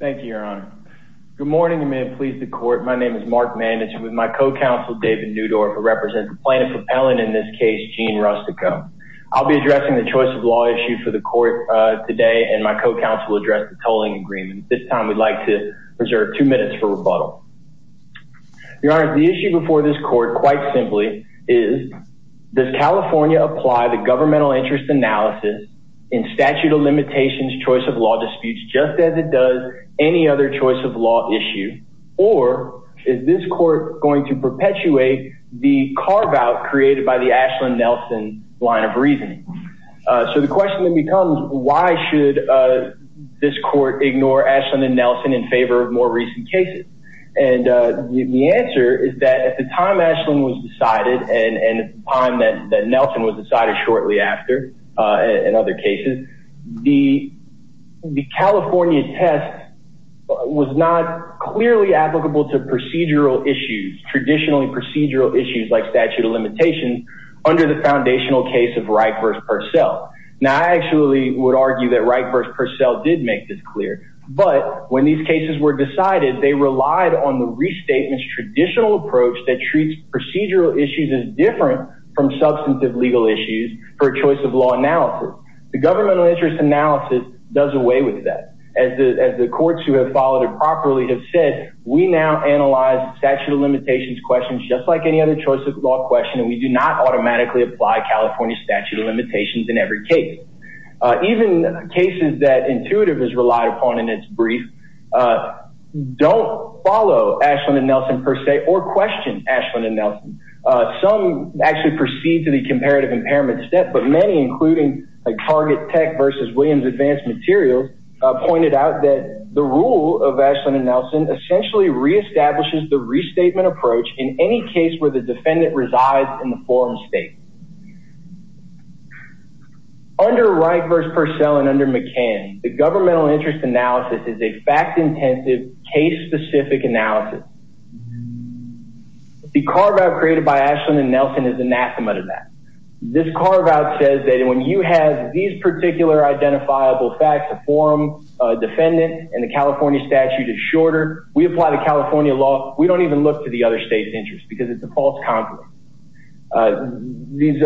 Thank you, your honor. Good morning. You may have pleased the court. My name is Mark Mann. It's with my co-counsel, David Newdorf, who represents the plaintiff propellant in this case, Jean Rustico. I'll be addressing the choice of law issue for the court today. And my co-counsel will address the tolling agreement. This time, we'd like to reserve two minutes for rebuttal. Your honor, the issue before this court, quite simply, is does California apply the governmental interest analysis in statute of limitations, choice of law disputes, just as it does any other choice of law issue? Or is this court going to perpetuate the carve out created by the Ashland-Nelson line of reasoning? So the question then becomes, why should this court ignore Ashland-Nelson in favor of more recent cases? And the answer is that at the time Ashland-Nelson was decided shortly after, in other cases, the California test was not clearly applicable to procedural issues, traditionally procedural issues like statute of limitations under the foundational case of Reich versus Purcell. Now, I actually would argue that Reich versus Purcell did make this clear. But when these cases were decided, they relied on the restatement's traditional approach that treats procedural issues as different from substantive legal issues for a choice of law analysis. The governmental interest analysis does away with that. As the courts who have followed it properly have said, we now analyze statute of limitations questions just like any other choice of law question, and we do not automatically apply California statute of limitations in every case. Even cases that intuitive is relied upon in its brief don't follow Ashland-Nelson per se or question Ashland-Nelson. Some actually proceed to the comparative impairment step, but many, including Target Tech versus Williams Advanced Materials, pointed out that the rule of Ashland-Nelson essentially reestablishes the restatement approach in any case where the defendant resides in the foreign state. Under Reich versus Purcell and under McCann, the governmental interest analysis is a fact intensive case specific analysis. The carve out created by Ashland-Nelson is anathema to that. This carve out says that when you have these particular identifiable facts, a forum defendant and the California statute is shorter, we apply the California law. We don't even look to the other state's interest because it's a false conflict. These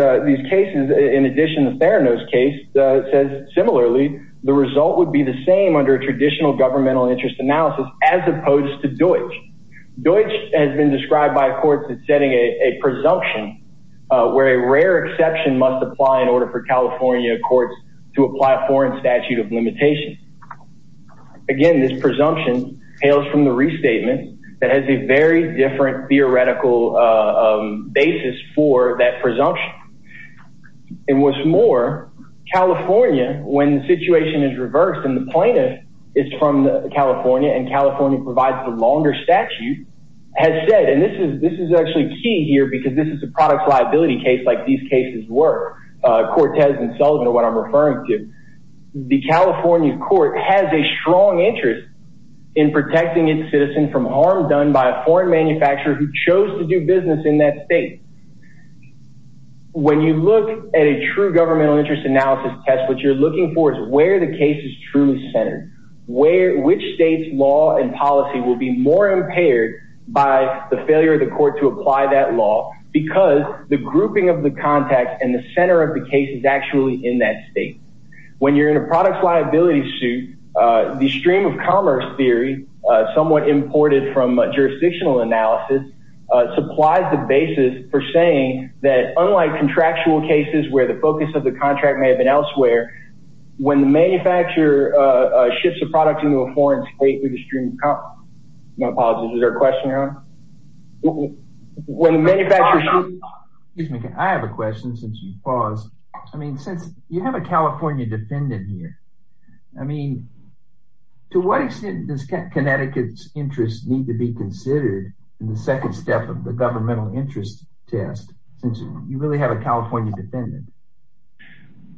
cases, in addition, the Theranos case says similarly, the result would be the same under a traditional governmental interest analysis as opposed to Deutsch. Deutsch has been described by courts as setting a presumption where a rare exception must apply in order for California courts to apply a foreign statute of limitations. Again, this presumption hails from the restatement that has a very different theoretical basis for that presumption. And what's more, California, when the situation is reversed and the plaintiff is from California and California provides the longer statute, has said, and this is this is actually key here because this is a product liability case like these cases were. Cortez and Sullivan are what I'm referring to. The California court has a strong interest in protecting its citizen from harm done by a foreign manufacturer who chose to do business in that state. When you look at a true governmental interest analysis test, what you're looking for is where the case is truly centered, where which state's law and policy will be more impaired by the failure of the court to apply that law because the grouping of the context and the center of the case is actually in that state. When you're in a product liability suit, the stream of commerce theory somewhat imported from jurisdictional analysis supplies the basis for saying that unlike contractual cases where the focus of the contract may have been elsewhere, when the manufacturer shifts the product into a foreign state with the stream of commerce. My apologies, is there a question, Your Honor? Excuse me, I have a question since you paused. I mean, since you have a California defendant here, I mean, to what extent does Connecticut's interests need to be considered in the second step of the governmental interest test since you really have a California defendant?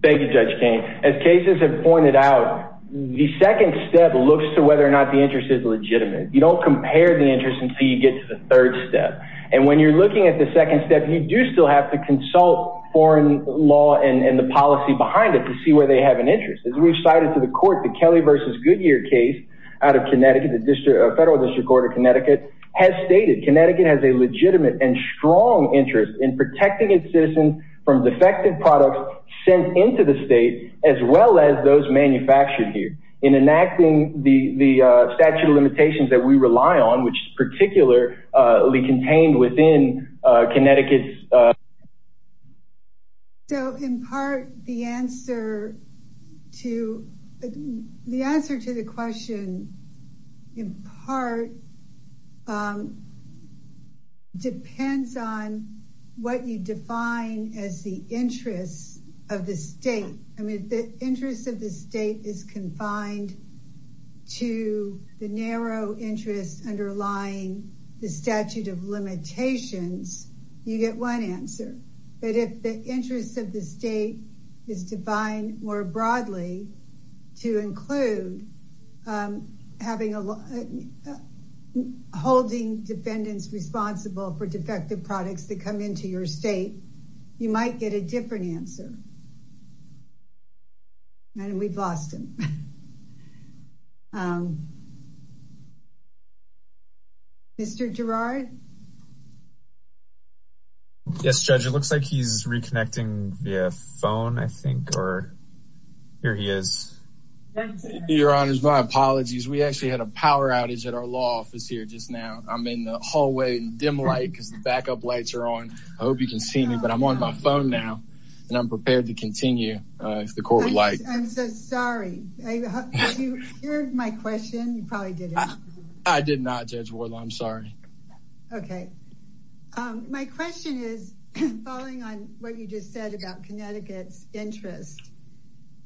Thank you, Judge Kane. As cases have pointed out, the second step looks to whether or not the interest is legitimate. You don't compare the interest until you get to the third step. And when you're looking at the second step, you do still have to consult foreign law and the policy behind it to see where they have an interest. As we've cited to the court, the Kelly versus Goodyear case out of Connecticut, the federal district court of Connecticut has stated Connecticut has a legitimate and strong interest in protecting its citizens from defective products sent into the state, as well as those manufactured here in enacting the statute of limitations that we rely on, which is particularly contained within Connecticut. So in part, the answer to the answer to the question in part depends on what you define as the interest of the state. I mean, the interest of the state is confined to the narrow interest underlying the statute of limitations. You get one answer. But if the interest of the state is defined more broadly to include having a holding defendants responsible for defective products that come into your state, you might get a different answer. And we've lost him. Mr. Gerard. Yes, Judge, it looks like he's reconnecting via phone, I think, or here he is. Your Honor, my apologies. We actually had a power outage at our law office here just now. I'm in the hallway dim light because the backup lights are on. I hope you can see me, but I'm on my phone now and I'm prepared to continue if the court would like. I'm so sorry. You heard my question. You probably did. I did not, Judge Wardle. I'm sorry. OK, my question is, following on what you just said about Connecticut's interest,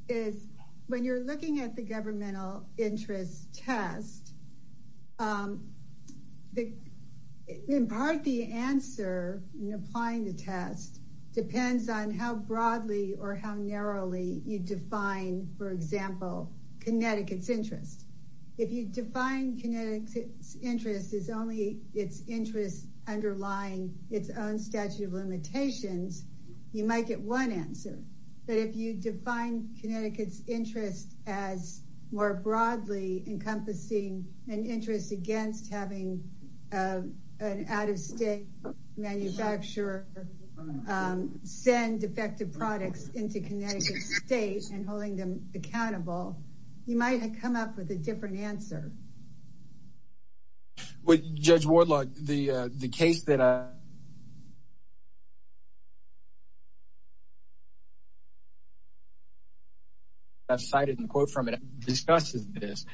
is when you're looking at the governmental interest test, the in part, the answer in applying the test depends on how broadly or how narrowly you define, for example, Connecticut's interest. If you define Connecticut's interest is only its interest underlying its own statute of limitations. You might get one answer. But if you define Connecticut's interest as more broadly encompassing an interest against having an out of state manufacturer send defective products into Connecticut state and holding them accountable, you might have come up with a different answer. With Judge Wardle, the the case that. I've cited in the quote from it, discusses this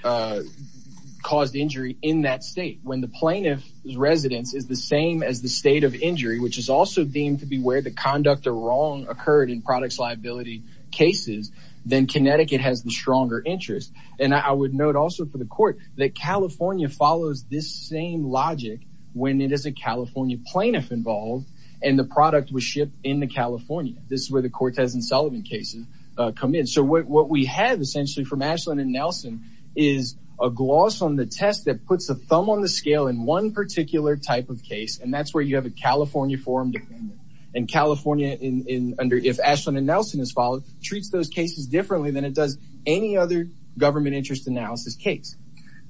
caused injury in that state when the plaintiff's residence is the same as the state of injury, which is also deemed to be where the conduct or wrong occurred in products, liability cases. Then Connecticut has the stronger interest. And I would note also for the court that California follows this same logic when it is a California plaintiff involved and the product was shipped in the California. This is where the Cortez and Sullivan cases come in. So what we have essentially from Ashland and Nelson is a gloss on the test that puts a thumb on the scale in one particular type of case. And that's where you have a California form. And California in under if Ashland and Nelson is followed, treats those cases differently than it does any other government interest analysis case.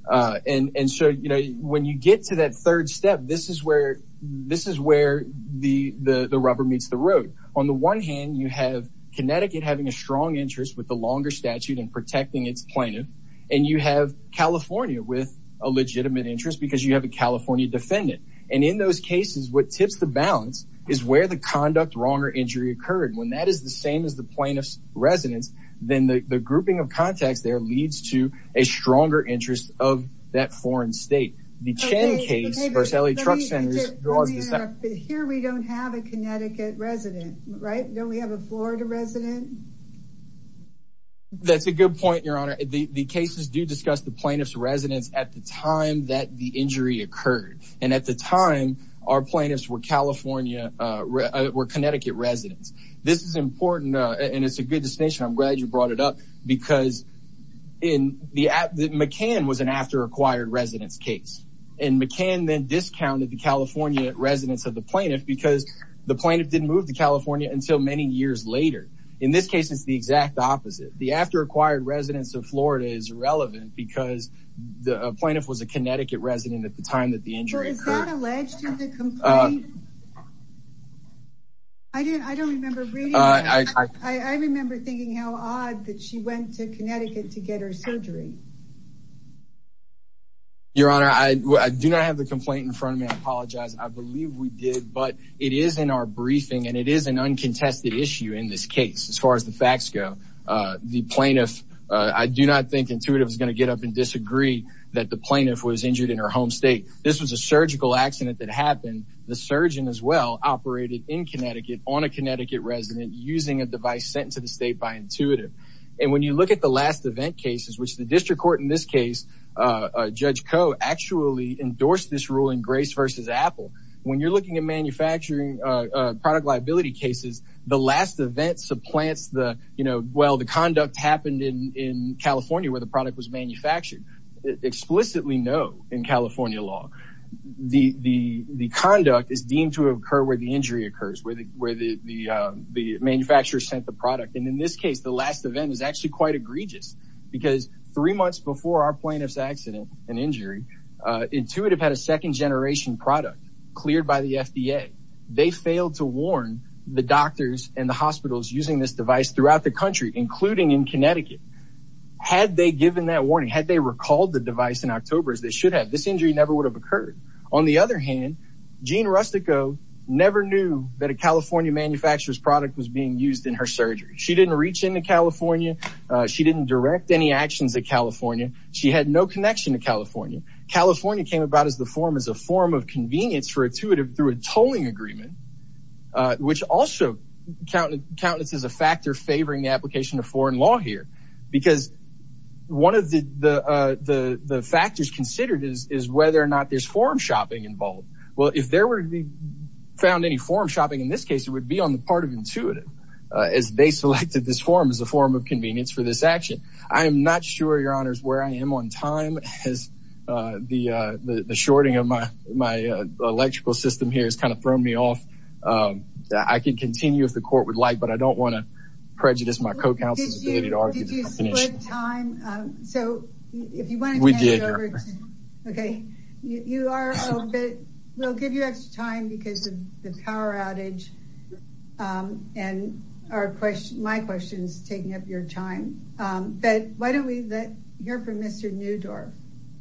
And so, you know, when you get to that third step, this is where this is where the the rubber meets the road. On the one hand, you have Connecticut having a strong interest with the longer statute and protecting its plaintiff. And you have California with a legitimate interest because you have a California defendant. And in those cases, what tips the balance is where the conduct wrong or injury occurred when that is the same as the plaintiff's residence. Then the grouping of contacts there leads to a stronger interest of that foreign state. The Chen case versus LA truck centers. Here, we don't have a Connecticut resident, right? Don't we have a Florida resident? That's a good point, Your Honor. The cases do discuss the plaintiff's residence at the time that the injury occurred. And at the time, our plaintiffs were California were Connecticut residents. This is important, and it's a good distinction. I'm glad you brought it up because in the McCann was an after acquired residence case and McCann then discounted the California residents of the plaintiff because the plaintiff didn't move to California until many years later. In this case, it's the exact opposite. The after acquired residence of Florida is relevant because the plaintiff was a Connecticut resident at the time that the injury occurred. Is that alleged to the complaint? I didn't I don't remember reading. I remember thinking how odd that she went to Connecticut to get her surgery. Your Honor, I do not have the complaint in front of me. I apologize. I believe we did. But it is in our briefing and it is an uncontested issue in this case. As far as the facts go, the plaintiff, I do not think intuitive is going to get up and disagree that the plaintiff was injured in her home state. This was a surgical accident that happened. The surgeon as well operated in Connecticut on a Connecticut resident using a device sent to the state by intuitive. And when you look at the last event cases, which the district court in this case Judge Koh actually endorsed this ruling, Grace versus Apple. When you're looking at manufacturing product liability cases, the last event supplants the you know, well, the conduct happened in in California where the product was manufactured explicitly. No. In California law, the the the conduct is deemed to occur where the injury occurs, where the where the the the manufacturer sent the product. And in this case, the last event is actually quite egregious because three months before our plaintiff's accident and injury, intuitive had a second generation product cleared by the FDA. They failed to warn the doctors and the hospitals using this device throughout the country, including in Connecticut. Had they given that warning, had they recalled the device in October as they should have, this injury never would have occurred. On the other hand, Jean Rustico never knew that a California manufacturer's product was being used in her surgery. She didn't reach into California. She didn't direct any actions in California. She had no connection to California. California came about as the form as a form of convenience for intuitive through a tolling agreement, which also countenances a factor favoring the application of foreign law here, because one of the the the the factors considered is is whether or not there's forum shopping involved. Well, if there were to be found any forum shopping in this case, it would be on the part of intuitive as they selected this form as a form of convenience for this action. I am not sure, your honors, where I am on time. Has the the shorting of my my electrical system here is kind of thrown me off that I can continue if the court would like. But I don't want to prejudice my co-counsel's ability to argue. Did you split time? So if you want to. We did. OK, you are. We'll give you extra time because of the power outage and our question, my question is taking up your time. But why don't we hear from Mr. Newdorf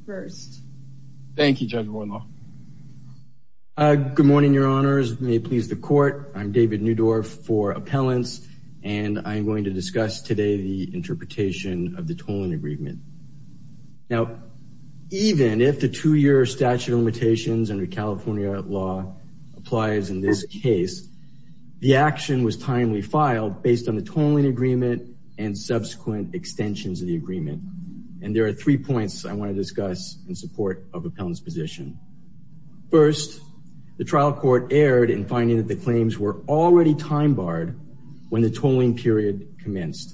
first? Thank you, Judge Warnock. Good morning, your honors. May it please the court. I'm David Newdorf for appellants, and I'm going to discuss today the interpretation of the tolling agreement. Now, even if the two year statute of limitations under California law applies in this case, the action was timely filed based on the tolling agreement and subsequent extensions of the agreement. And there are three points I want to discuss in support of appellant's position. First, the trial court erred in finding that the claims were already time barred when the tolling period commenced.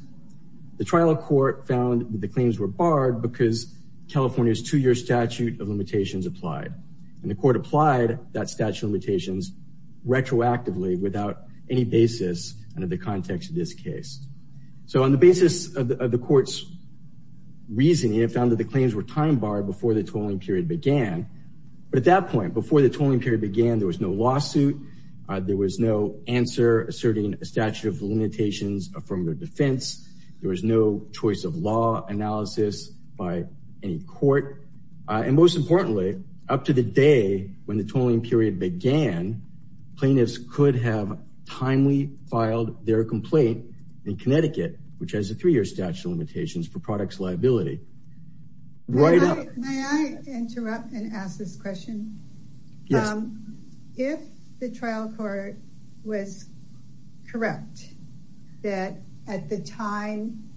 The trial court found that the claims were barred because California's two year statute of limitations applied and the court applied that statute of limitations retroactively without any basis under the context of this case. So on the basis of the court's reasoning, it found that the claims were time barred before the tolling period began. But at that point, before the tolling period began, there was no lawsuit. There was no answer asserting a statute of limitations from the defense. There was no choice of law analysis by any court. And most importantly, up to the day when the tolling period began, plaintiffs could have timely filed their complaint in Connecticut, which has a three year statute of limitations for products liability. Right. May I interrupt and ask this question? Yes. If the trial court was correct that at the time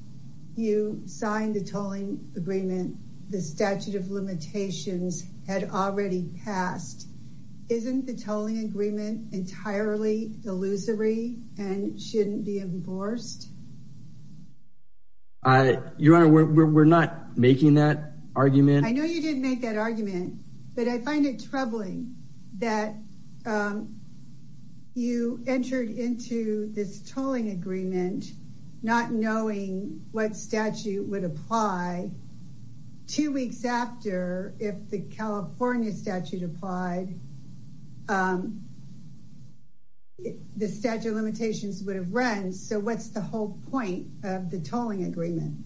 you signed the tolling agreement, the statute of limitations had already passed. Isn't the tolling agreement entirely illusory and shouldn't be enforced? I, Your Honor, we're not making that argument. I know you didn't make that argument, but I find it troubling that you entered into this tolling agreement, not knowing what statute would apply. Two weeks after, if the California statute applied, the statute of limitations would have run. So what's the whole point of the tolling agreement?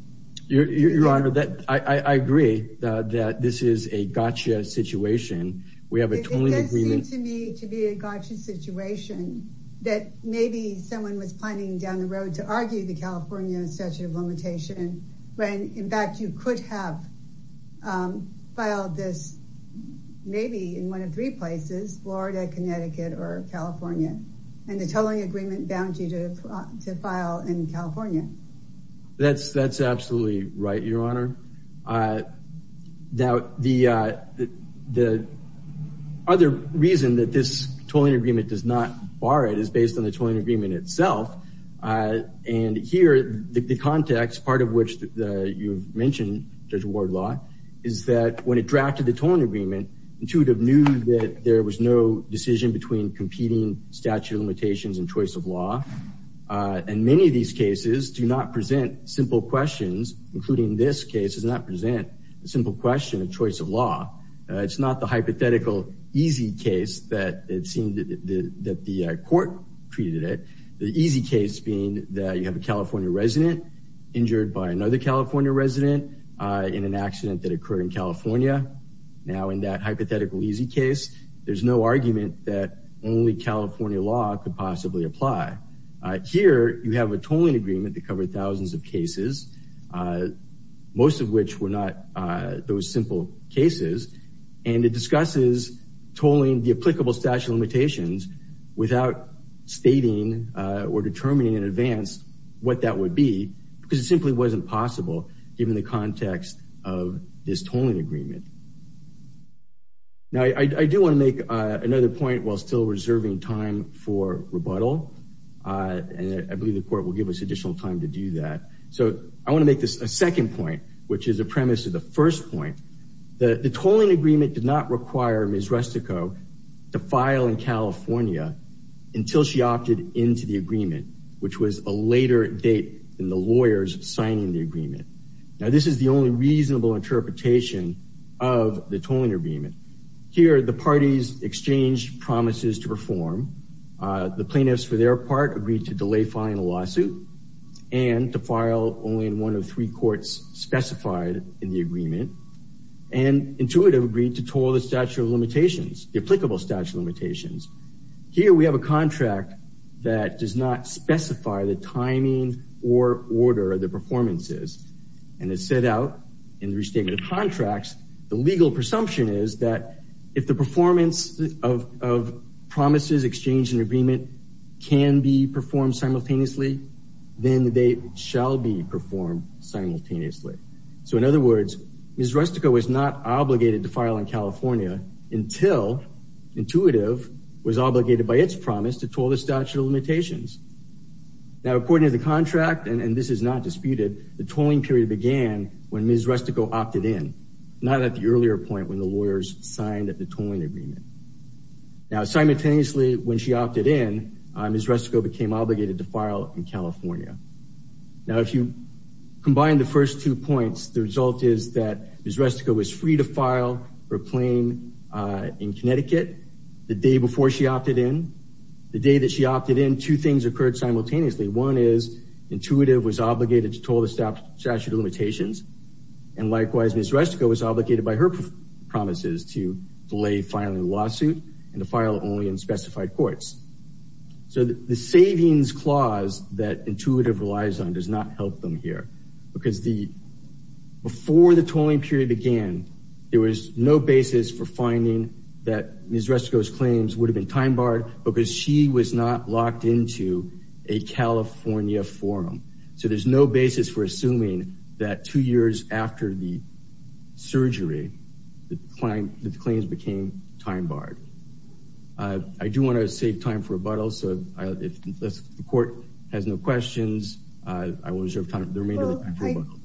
Your Honor, I agree that this is a gotcha situation. We have a tolling agreement. It does seem to me to be a gotcha situation that maybe someone was planning that you could have filed this maybe in one of three places, Florida, Connecticut or California. And the tolling agreement bound you to file in California. That's that's absolutely right, Your Honor. Now, the other reason that this tolling agreement does not bar it is based on the tolling agreement itself. And here, the context, part of which you've mentioned, Judge Wardlaw, is that when it drafted the tolling agreement, intuitive knew that there was no decision between competing statute of limitations and choice of law. And many of these cases do not present simple questions, including this case does not present a simple question of choice of law. It's not the hypothetical easy case that it seemed that the court treated it. The easy case being that you have a California resident injured by another California resident in an accident that occurred in California. Now, in that hypothetical easy case, there's no argument that only California law could possibly apply. Here, you have a tolling agreement to cover thousands of cases, most of which were not those simple cases. And it discusses tolling the applicable statute of limitations without stating or determining in advance what that would be because it simply wasn't possible given the context of this tolling agreement. Now, I do want to make another point while still reserving time for rebuttal. And I believe the court will give us additional time to do that. So I want to make this a second point, which is a premise of the first point. The tolling agreement did not require Ms. Rustico to file in California until she opted into the agreement, which was a later date than the lawyers signing the agreement. Now, this is the only reasonable interpretation of the tolling agreement. Here, the parties exchanged promises to perform. The plaintiffs, for their part, agreed to delay filing a lawsuit and to file only in one of three courts specified in the agreement. And intuitive agreed to toll the statute of limitations, the applicable statute of limitations. Here we have a contract that does not specify the timing or order of the performances. And it's set out in the restatement of contracts. The legal presumption is that if the performance of of promises, exchange and agreement can be performed simultaneously, then they shall be performed simultaneously. So in other words, Ms. Rustico was not obligated to file in California until intuitive was obligated by its promise to toll the statute of limitations. Now, according to the contract, and this is not disputed, the tolling period began when Ms. Rustico opted in, not at the earlier point when the lawyers signed the tolling agreement. Now, simultaneously, when she opted in, Ms. Rustico became obligated to file in California. Now, if you combine the first two points, the result is that Ms. Rustico was free to file for a claim in Connecticut the day before she opted in. The day that she opted in, two things occurred simultaneously. One is intuitive was obligated to toll the statute of limitations. And likewise, Ms. Rustico was obligated by her promises to delay filing a lawsuit and to file only in specified courts. So the savings clause that intuitive relies on does not help them here because the before the tolling period began, there was no basis for finding that Ms. Rustico's claims would have been time barred because she was not locked into a California forum. So there's no basis for assuming that two years after the surgery, the claims became time barred. I do want to save time for rebuttal, so if the court has no questions, I will reserve time for the remainder of the time for rebuttal.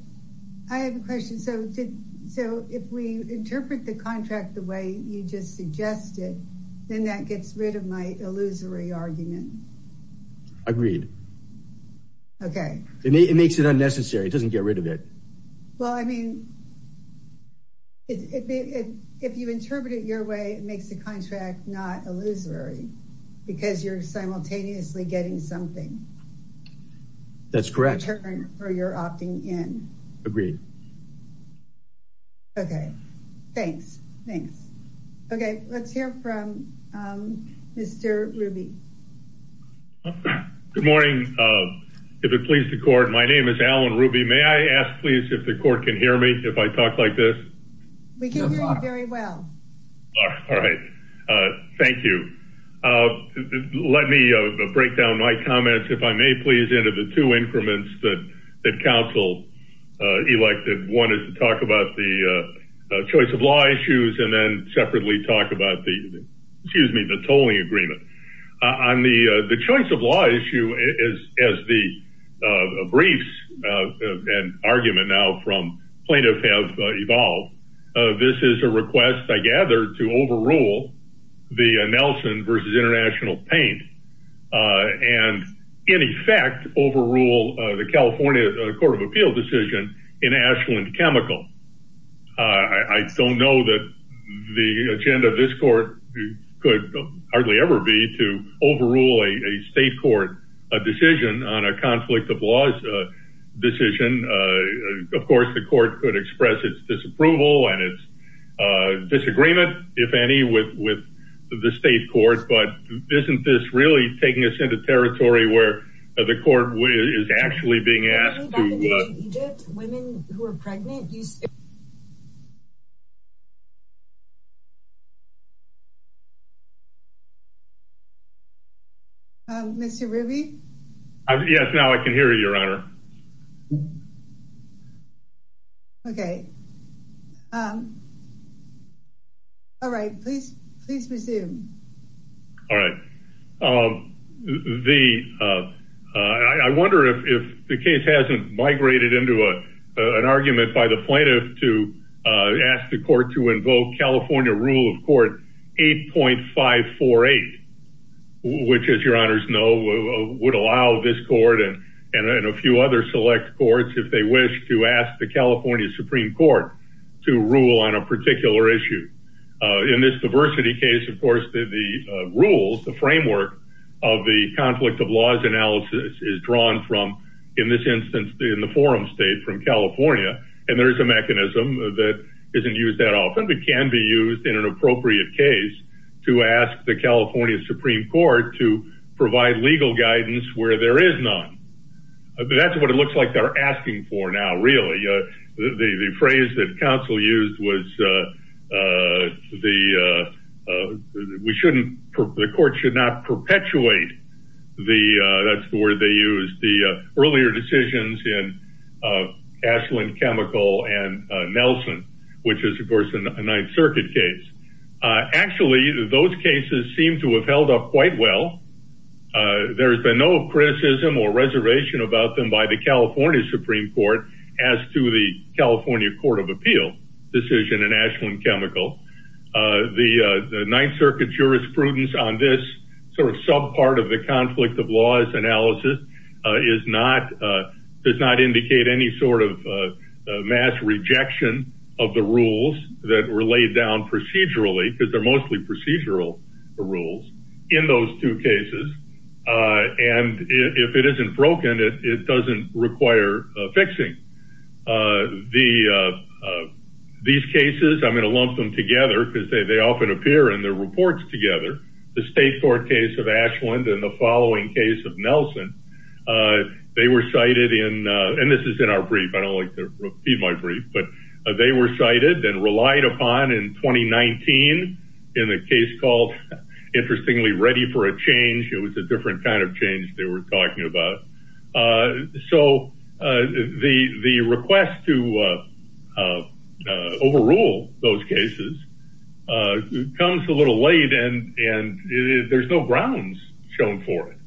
I have a question. So did so if we interpret the contract the way you just suggested, then that gets rid of my illusory argument. Agreed. OK, it makes it unnecessary. It doesn't get rid of it. Well, I mean. If you interpret it your way, it makes the contract not illusory because you're simultaneously getting something. That's correct. Or you're opting in. Agreed. OK, thanks. Thanks. OK, let's hear from Mr. Ruby. Good morning. If it pleases the court, my name is Alan Ruby. May I ask, please, if the court can hear me if I talk like this? We can hear you very well. All right. Thank you. Let me break down my comments, if I may, please, into the two increments that that council elected. One is to talk about the choice of law issues and then separately talk about the excuse me, the tolling agreement on the the choice of law issue is as the briefs and argument now from plaintiffs have evolved. This is a request, I gather, to overrule the Nelson versus international paint and in effect overrule the California Court of Appeal decision in Ashland Chemical. I don't know that the agenda of this court could hardly ever be to overrule a state court a decision on a conflict of laws decision. Of course, the court could express its disapproval and its disagreement, if any, with with the state court. But isn't this really taking us into territory where the court is actually being asked to women who are pregnant? You. Mr. Ruby. Yes, now I can hear you, Your Honor. OK. All right. Please, please resume. All right. The I wonder if the case hasn't migrated into an argument by the plaintiff to ask the court to invoke California rule of court eight point five four eight, which, as your honors know, would allow this court and a few other select courts if they wish to ask the California Supreme Court to rule on a particular issue. In this diversity case, of course, the rules, the framework of the conflict of laws analysis is drawn from, in this instance, in the forum state from California. And there is a mechanism that isn't used that often. It can be used in an appropriate case to ask the California Supreme Court to provide legal guidance where there is none. That's what it looks like they're asking for now. Really, the phrase that counsel used was the we shouldn't. The court should not perpetuate the that's the word they use. The earlier decisions in Ashland Chemical and Nelson, which is, of course, a Ninth Circuit case. Actually, those cases seem to have held up quite well. There's been no criticism or reservation about them by the California Supreme Court as to the California Court of Appeal decision in Ashland Chemical. The Ninth Circuit jurisprudence on this sort of sub part of the conflict of laws analysis is not does not indicate any sort of mass rejection of the rules that were laid down procedurally because they're mostly procedural rules in those two cases. And if it isn't broken, it doesn't require fixing the these cases. I'm going to lump them together because they often appear in the reports together. The state court case of Ashland and the following case of Nelson, they were cited in and this is in our brief. I don't like to repeat my brief, but they were cited and relied upon in 2019 in a case called, interestingly, ready for a change. It was a different kind of change they were talking about. So the request to overrule those cases comes a little late. And there's no grounds shown for it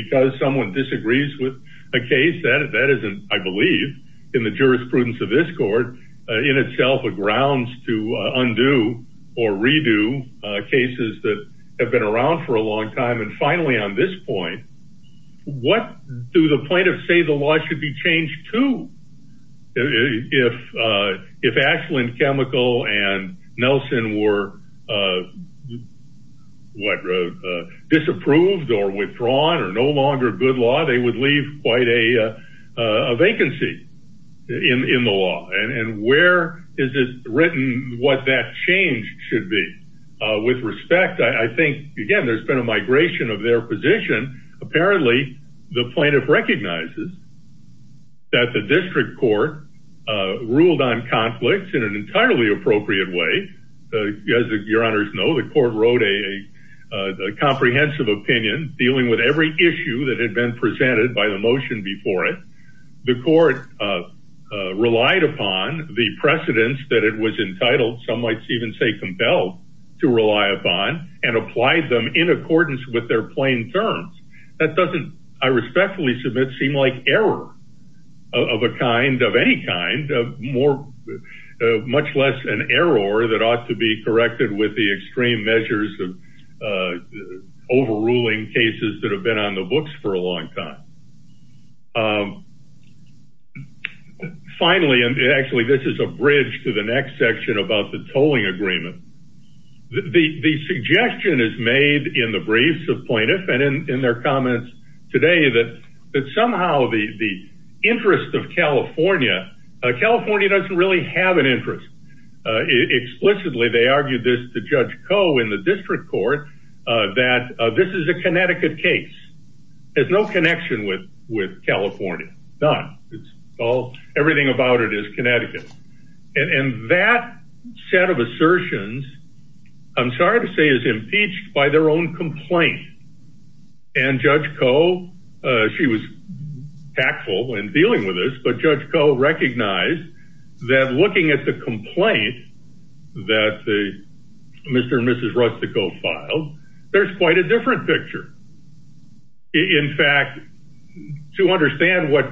because someone disagrees with a case that isn't, I believe, in the jurisprudence of this court, in itself, a grounds to undo or redo cases that have been around for a long time. And finally, on this point, what do the plaintiffs say the law should be changed to? If Ashland Chemical and Nelson were, what, disapproved or withdrawn or no longer good law, they would leave quite a vacancy in the law. And where is it written what that change should be? With respect, I think, again, there's been a migration of their position. Apparently, the plaintiff recognizes that the district court ruled on conflicts in an entirely appropriate way. As your honors know, the court wrote a comprehensive opinion dealing with every issue that had been presented by the motion before it. The court relied upon the precedents that it was entitled, some might even say compelled to rely upon, and applied them in accordance with their plain terms. That doesn't, I respectfully submit, seem like error of a kind, of any kind, much less an error that ought to be corrected with the extreme measures of overruling cases that have been on the books for a long time. Finally, and actually, this is a bridge to the next section about the tolling agreement. The suggestion is made in the briefs of plaintiff and in their comments today that somehow the interest of California, California doesn't really have an interest. Explicitly, they argued this to Judge Coe in the district court that this is a Connecticut case. There's no connection with California. None. It's all, everything about it is Connecticut. And that set of assertions, I'm sorry to say, is impeached by their own complaint. And Judge Coe, she was tactful in dealing with this, but Judge Coe recognized that looking at the complaint that Mr. and Mrs. Rustico filed, there's quite a different picture. In fact, to understand what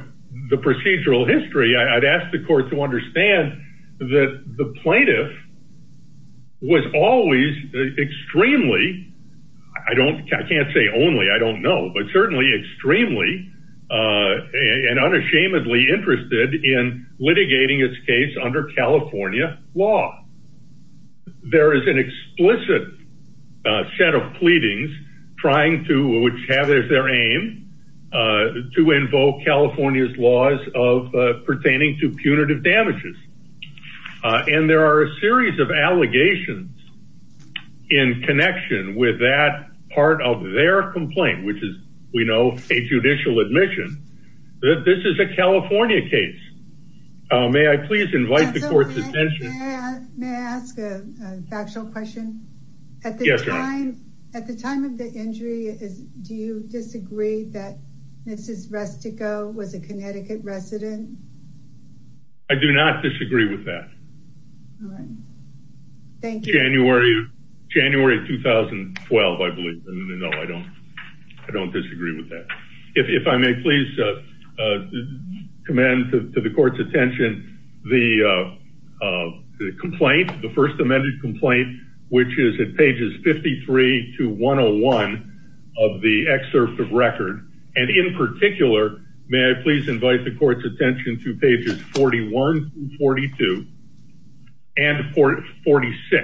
the procedural history, I'd ask the court to understand that the plaintiff was always extremely, I can't say only, I don't know, but certainly extremely and unashamedly interested in litigating its case under California law. There is an explicit set of pleadings trying to, which have as their aim, to invoke California's laws of pertaining to punitive damages. And there are a series of allegations in connection with that part of their complaint, which is, we know, a judicial admission, that this is a California case. May I please invite the court's attention? May I ask a factual question? Yes, Your Honor. At the time of the injury, do you disagree that Mrs. Rustico was a Connecticut resident? I do not disagree with that. Thank you. January of 2012, I believe. No, I don't. I don't disagree with that. If I may please commend to the court's attention the complaint, the first amended complaint, which is at pages 53 to 101 of the excerpt of record. And in particular, may I please invite the court's attention to pages 41 through 42 and 46,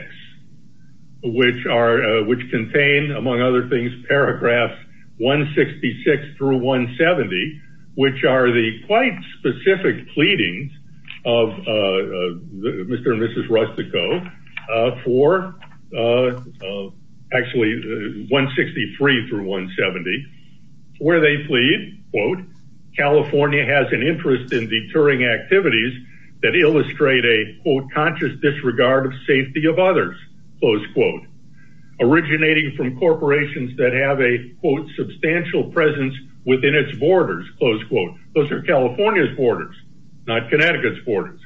which contain, among other things, paragraphs 166 through 170, which are the quite specific pleadings of Mr. and Mrs. Rustico for, actually, 163 through 170, where they plead, quote, California has an interest in deterring activities that illustrate a, quote, conscious disregard of safety of others, close quote, originating from corporations that have a, quote, substantial presence within its borders, close quote. Those are California's borders, not Connecticut's borders.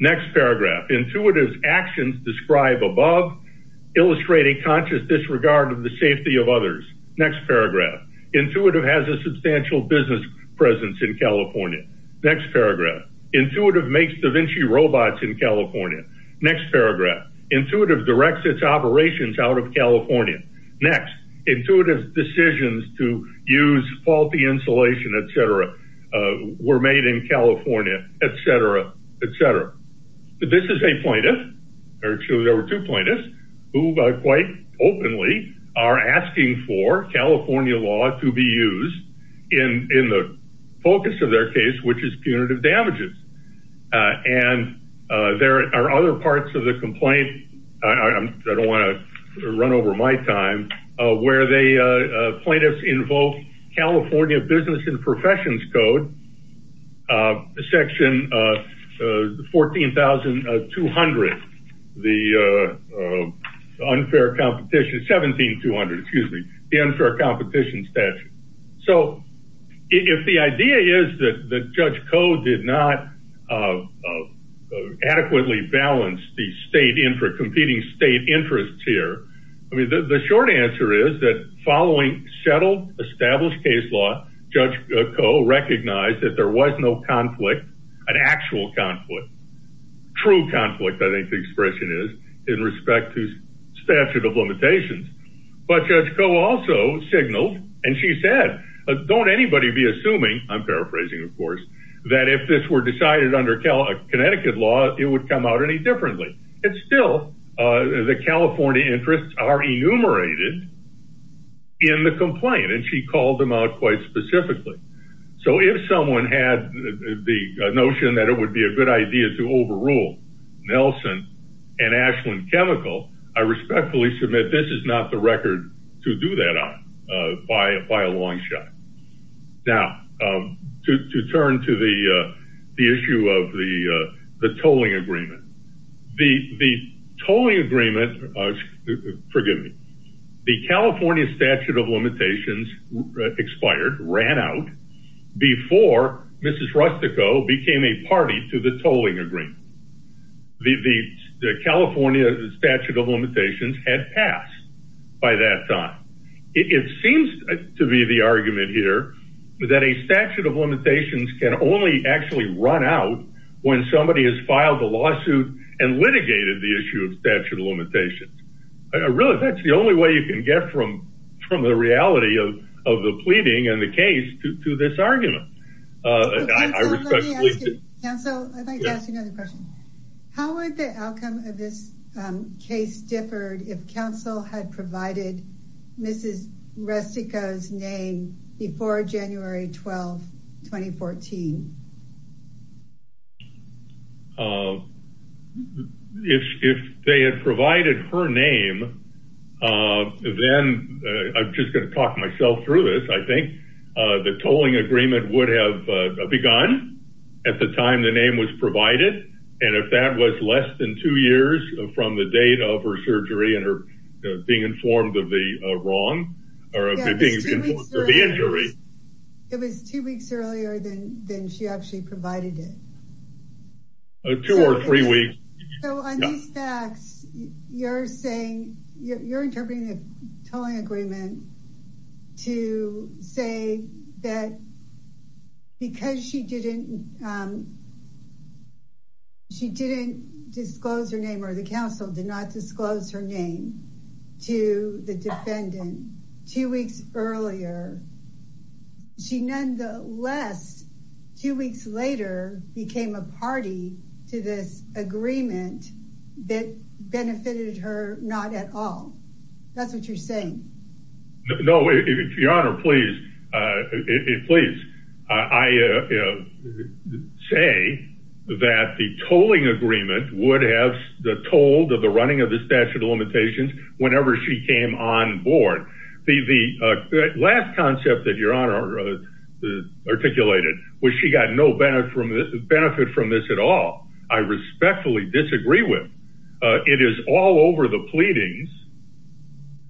Next paragraph, intuitive actions describe above, illustrating conscious disregard of the safety of others. Next paragraph, intuitive has a substantial business presence in California. Next paragraph, intuitive makes DaVinci robots in California. Next paragraph, intuitive directs its operations out of California. Next, intuitive decisions to use faulty insulation, et cetera, were made in California, et cetera, et cetera. This is a plaintiff, or excuse me, there were two plaintiffs, who quite openly are asking for California law to be used in the focus of their case, which is punitive damages. And there are other parts of the complaint, I don't want to run over my time, where they, plaintiffs invoke California business and professions code, uh, section, uh, uh, the 14,200, the, uh, unfair competition, 17,200, excuse me, the unfair competition statute. So if the idea is that the judge code did not, uh, uh, adequately balance the state in for competing state interests here. I mean, the, the short answer is that following settled established case law, judge co recognized that there was no conflict, an actual conflict, true conflict. I think the expression is in respect to statute of limitations, but judge co also signaled. And she said, don't anybody be assuming I'm paraphrasing, of course, that if this were decided under Cal Connecticut law, it would come out any differently. It's still, uh, the California interests are enumerated in the complaint. And she called them out quite specifically. So if someone had the notion that it would be a good idea to overrule Nelson and Ashland chemical, I respectfully submit, this is not the record to do that on, uh, by, by a long shot. Now, um, to, to turn to the, uh, the issue of the, uh, the tolling agreement, the, the tolling agreement, uh, forgive me, the California statute of limitations expired, ran out before mrs. Rustico became a party to the tolling agreement. The, the, the California statute of limitations had passed by that time. It seems to be the argument here that a statute of limitations can only actually run out when somebody has filed a lawsuit and litigated the issue of statute of limitations. I really, that's the only way you can get from, from the reality of, of the pleading and the case to, to this argument. How would the outcome of this case differed if counsel had provided Mrs. Rustico's name before January 12th, 2014? Uh, if, if they had provided her name, uh, then, uh, I'm just going to talk myself through this. I think, uh, the tolling agreement would have begun at the time the name was provided. And if that was less than two years from the date of her surgery and her informed of the, uh, wrong or the injury. It was two weeks earlier than, than she actually provided it. Two or three weeks. You're saying you're interpreting the tolling agreement to say that because she didn't, um, she didn't disclose her name or the council did not disclose her name to the defendant two weeks earlier. She, nonetheless, two weeks later became a party to this agreement that benefited her. Not at all. That's what you're saying. No, if your honor, please, uh, please, uh, I, uh, say that the tolling agreement would have the tolled of the running of the statute of limitations. Whenever she came on board, the, the, uh, last concept that your honor, uh, articulated was she got no benefit from this at all. I respectfully disagree with, uh, it is all over the pleadings.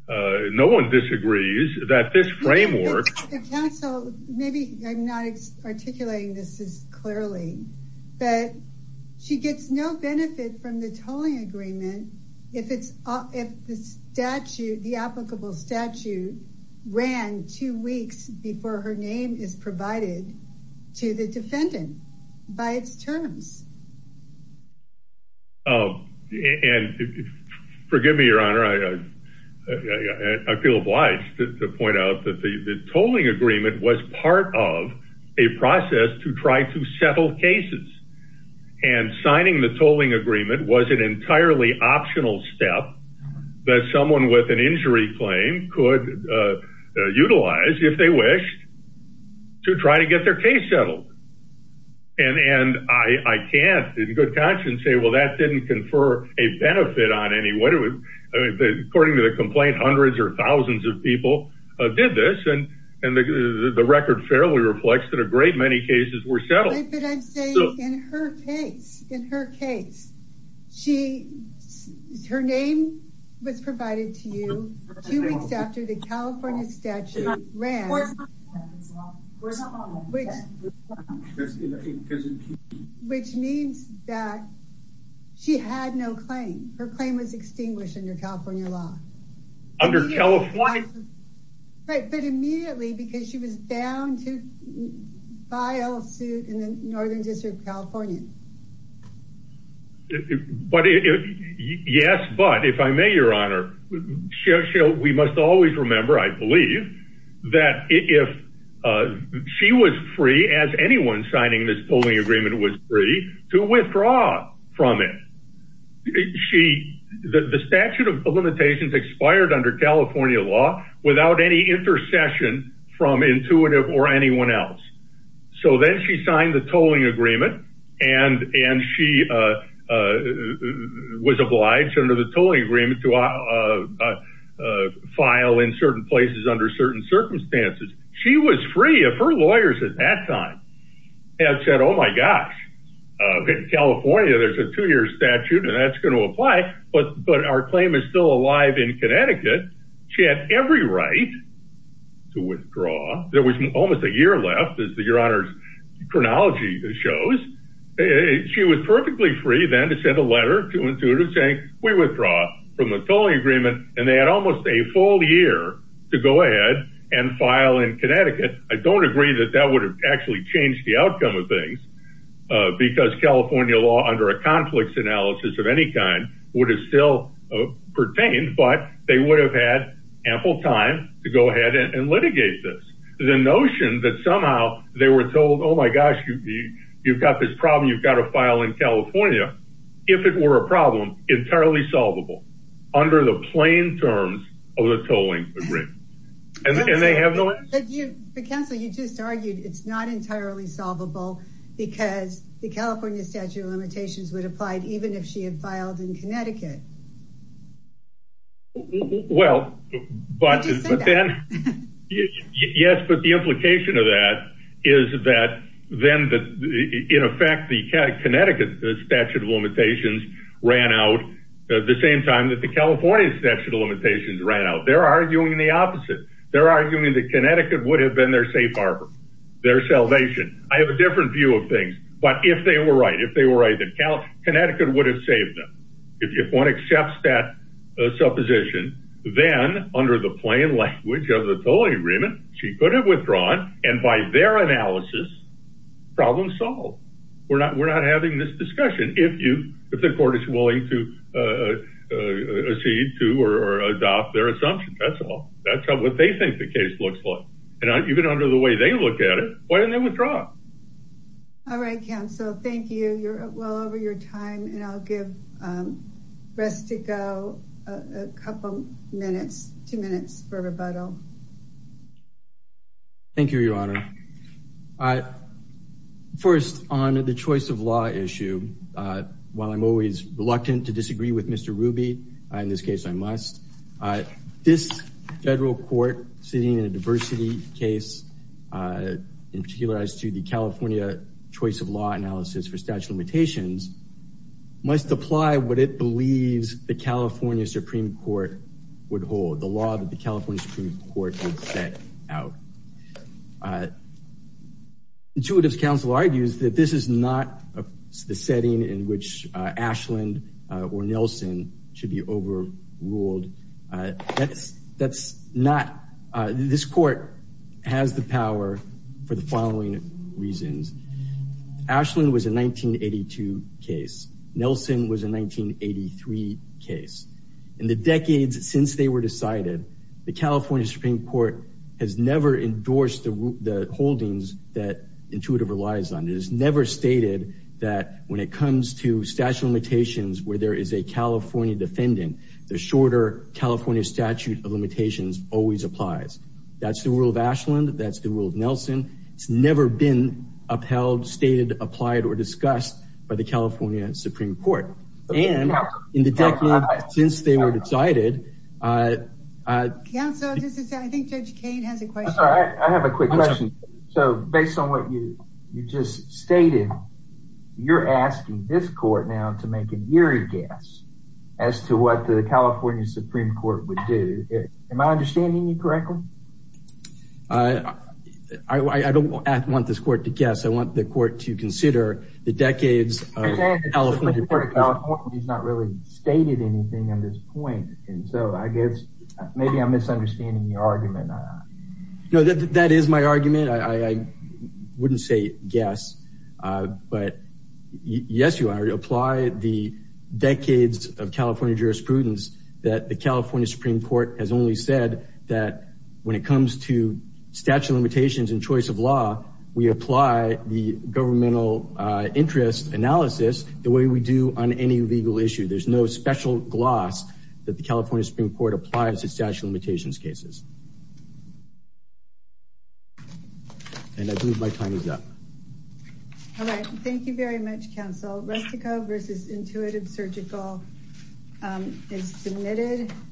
Uh, no one disagrees that this framework. The council, maybe I'm not articulating this as clearly, but she gets no benefit from the tolling agreement. If it's, uh, if the statute, the applicable statute ran two weeks before her name is provided to the defendant by its terms. Oh, and forgive me, your honor. I, I, I feel obliged to point out that the tolling agreement was part of a process to try to settle cases and signing the tolling agreement was an entirely optional step that someone with an injury claim could, uh, uh, utilize if they wished to try to get their case settled. And, and I, I can't in good conscience say, well, that didn't confer a benefit on any way. I mean, according to the complaint, hundreds or thousands of people did this and, and the, the record fairly reflects that a great many cases were settled. But I'm saying in her case, in her case, she, her name was provided to you two weeks after the California statute ran, which means that she had no claim. Her claim was extinguished under California law. Right. But immediately because she was down to file a suit in the Northern district of California. But yes, but if I may, your honor, we must always remember, I believe that if, uh, she was free as expired under California law without any intercession from intuitive or anyone else. So then she signed the tolling agreement and, and she, uh, uh, was obliged under the tolling agreement to, uh, uh, uh, uh, file in certain places under certain circumstances. She was free if her lawyers at that time had said, oh my gosh, uh, California, there's a two year statute and that's going to apply. But, but our claim is still alive in Connecticut. She had every right to withdraw. There was almost a year left as the your honors chronology shows. She was perfectly free then to send a letter to intuitive saying we withdraw from the tolling agreement. And they had almost a full year to go ahead and file in Connecticut. I don't agree that that would actually change the outcome of things, uh, because California law under a conflicts analysis of any kind would have still pertained, but they would have had ample time to go ahead and litigate this. The notion that somehow they were told, oh my gosh, you, you've got this problem. You've got to file in California. If it were a problem entirely solvable under the plain terms of the solvable because the California statute of limitations would apply even if she had filed in Connecticut. Well, but then yes, but the implication of that is that then the, in effect, the Connecticut statute of limitations ran out the same time that the California statute of limitations ran out. They're arguing the opposite. They're arguing that Connecticut would have been their safe Harbor, their salvation. I have a different view of things, but if they were right, if they were right, that Cal Connecticut would have saved them. If you want to accept that supposition, then under the plain language of the tolling agreement, she could have withdrawn. And by their analysis, problem solved. We're not, we're not having this discussion. If you, if the court is willing to, uh, uh, see to, or adopt their assumption, that's all. That's what they think the case looks like. And even under the way they look at it, why didn't they withdraw? All right, council. Thank you. You're well over your time and I'll give, um, rest to go a couple minutes, two minutes for rebuttal. Thank you, your honor. I first on the choice of law issue, uh, while I'm always reluctant to sitting in a diversity case, uh, in particular as to the California choice of law analysis for statute of limitations must apply what it believes the California Supreme court would hold the law that the California Supreme court would set out. Uh, intuitive council argues that this is not the setting in which Ashland or Nelson should be over ruled. Uh, that's, not, uh, this court has the power for the following reasons. Ashland was a 1982 case. Nelson was a 1983 case. In the decades since they were decided, the California Supreme court has never endorsed the holdings that intuitive relies on. It is never stated that when it comes to statute of limitations, where there is a California defendant, the shorter California statute of limitations always applies. That's the rule of Ashland. That's the rule of Nelson. It's never been upheld, stated, applied, or discussed by the California Supreme court. And in the decades since they were decided, uh, uh, I think judge Cain has a question. So based on what you, you just stated, you're asking this court now to make an eerie guess as to what the California Supreme court would do. Am I understanding you correctly? Uh, I, I don't want this court to guess. I want the court to consider the decades. He's not really stated anything on this point. And so I guess maybe I'm misunderstanding your argument. No, that, that is my argument. I, I wouldn't say guess, uh, but yes, apply the decades of California jurisprudence that the California Supreme court has only said that when it comes to statute of limitations and choice of law, we apply the governmental, uh, interest analysis the way we do on any legal issue. There's no special gloss that the California Supreme court applies to statute of limitations cases. And I believe my time is up. All right. Thank you very much. Council Rustico versus intuitive surgical, um, is submitted.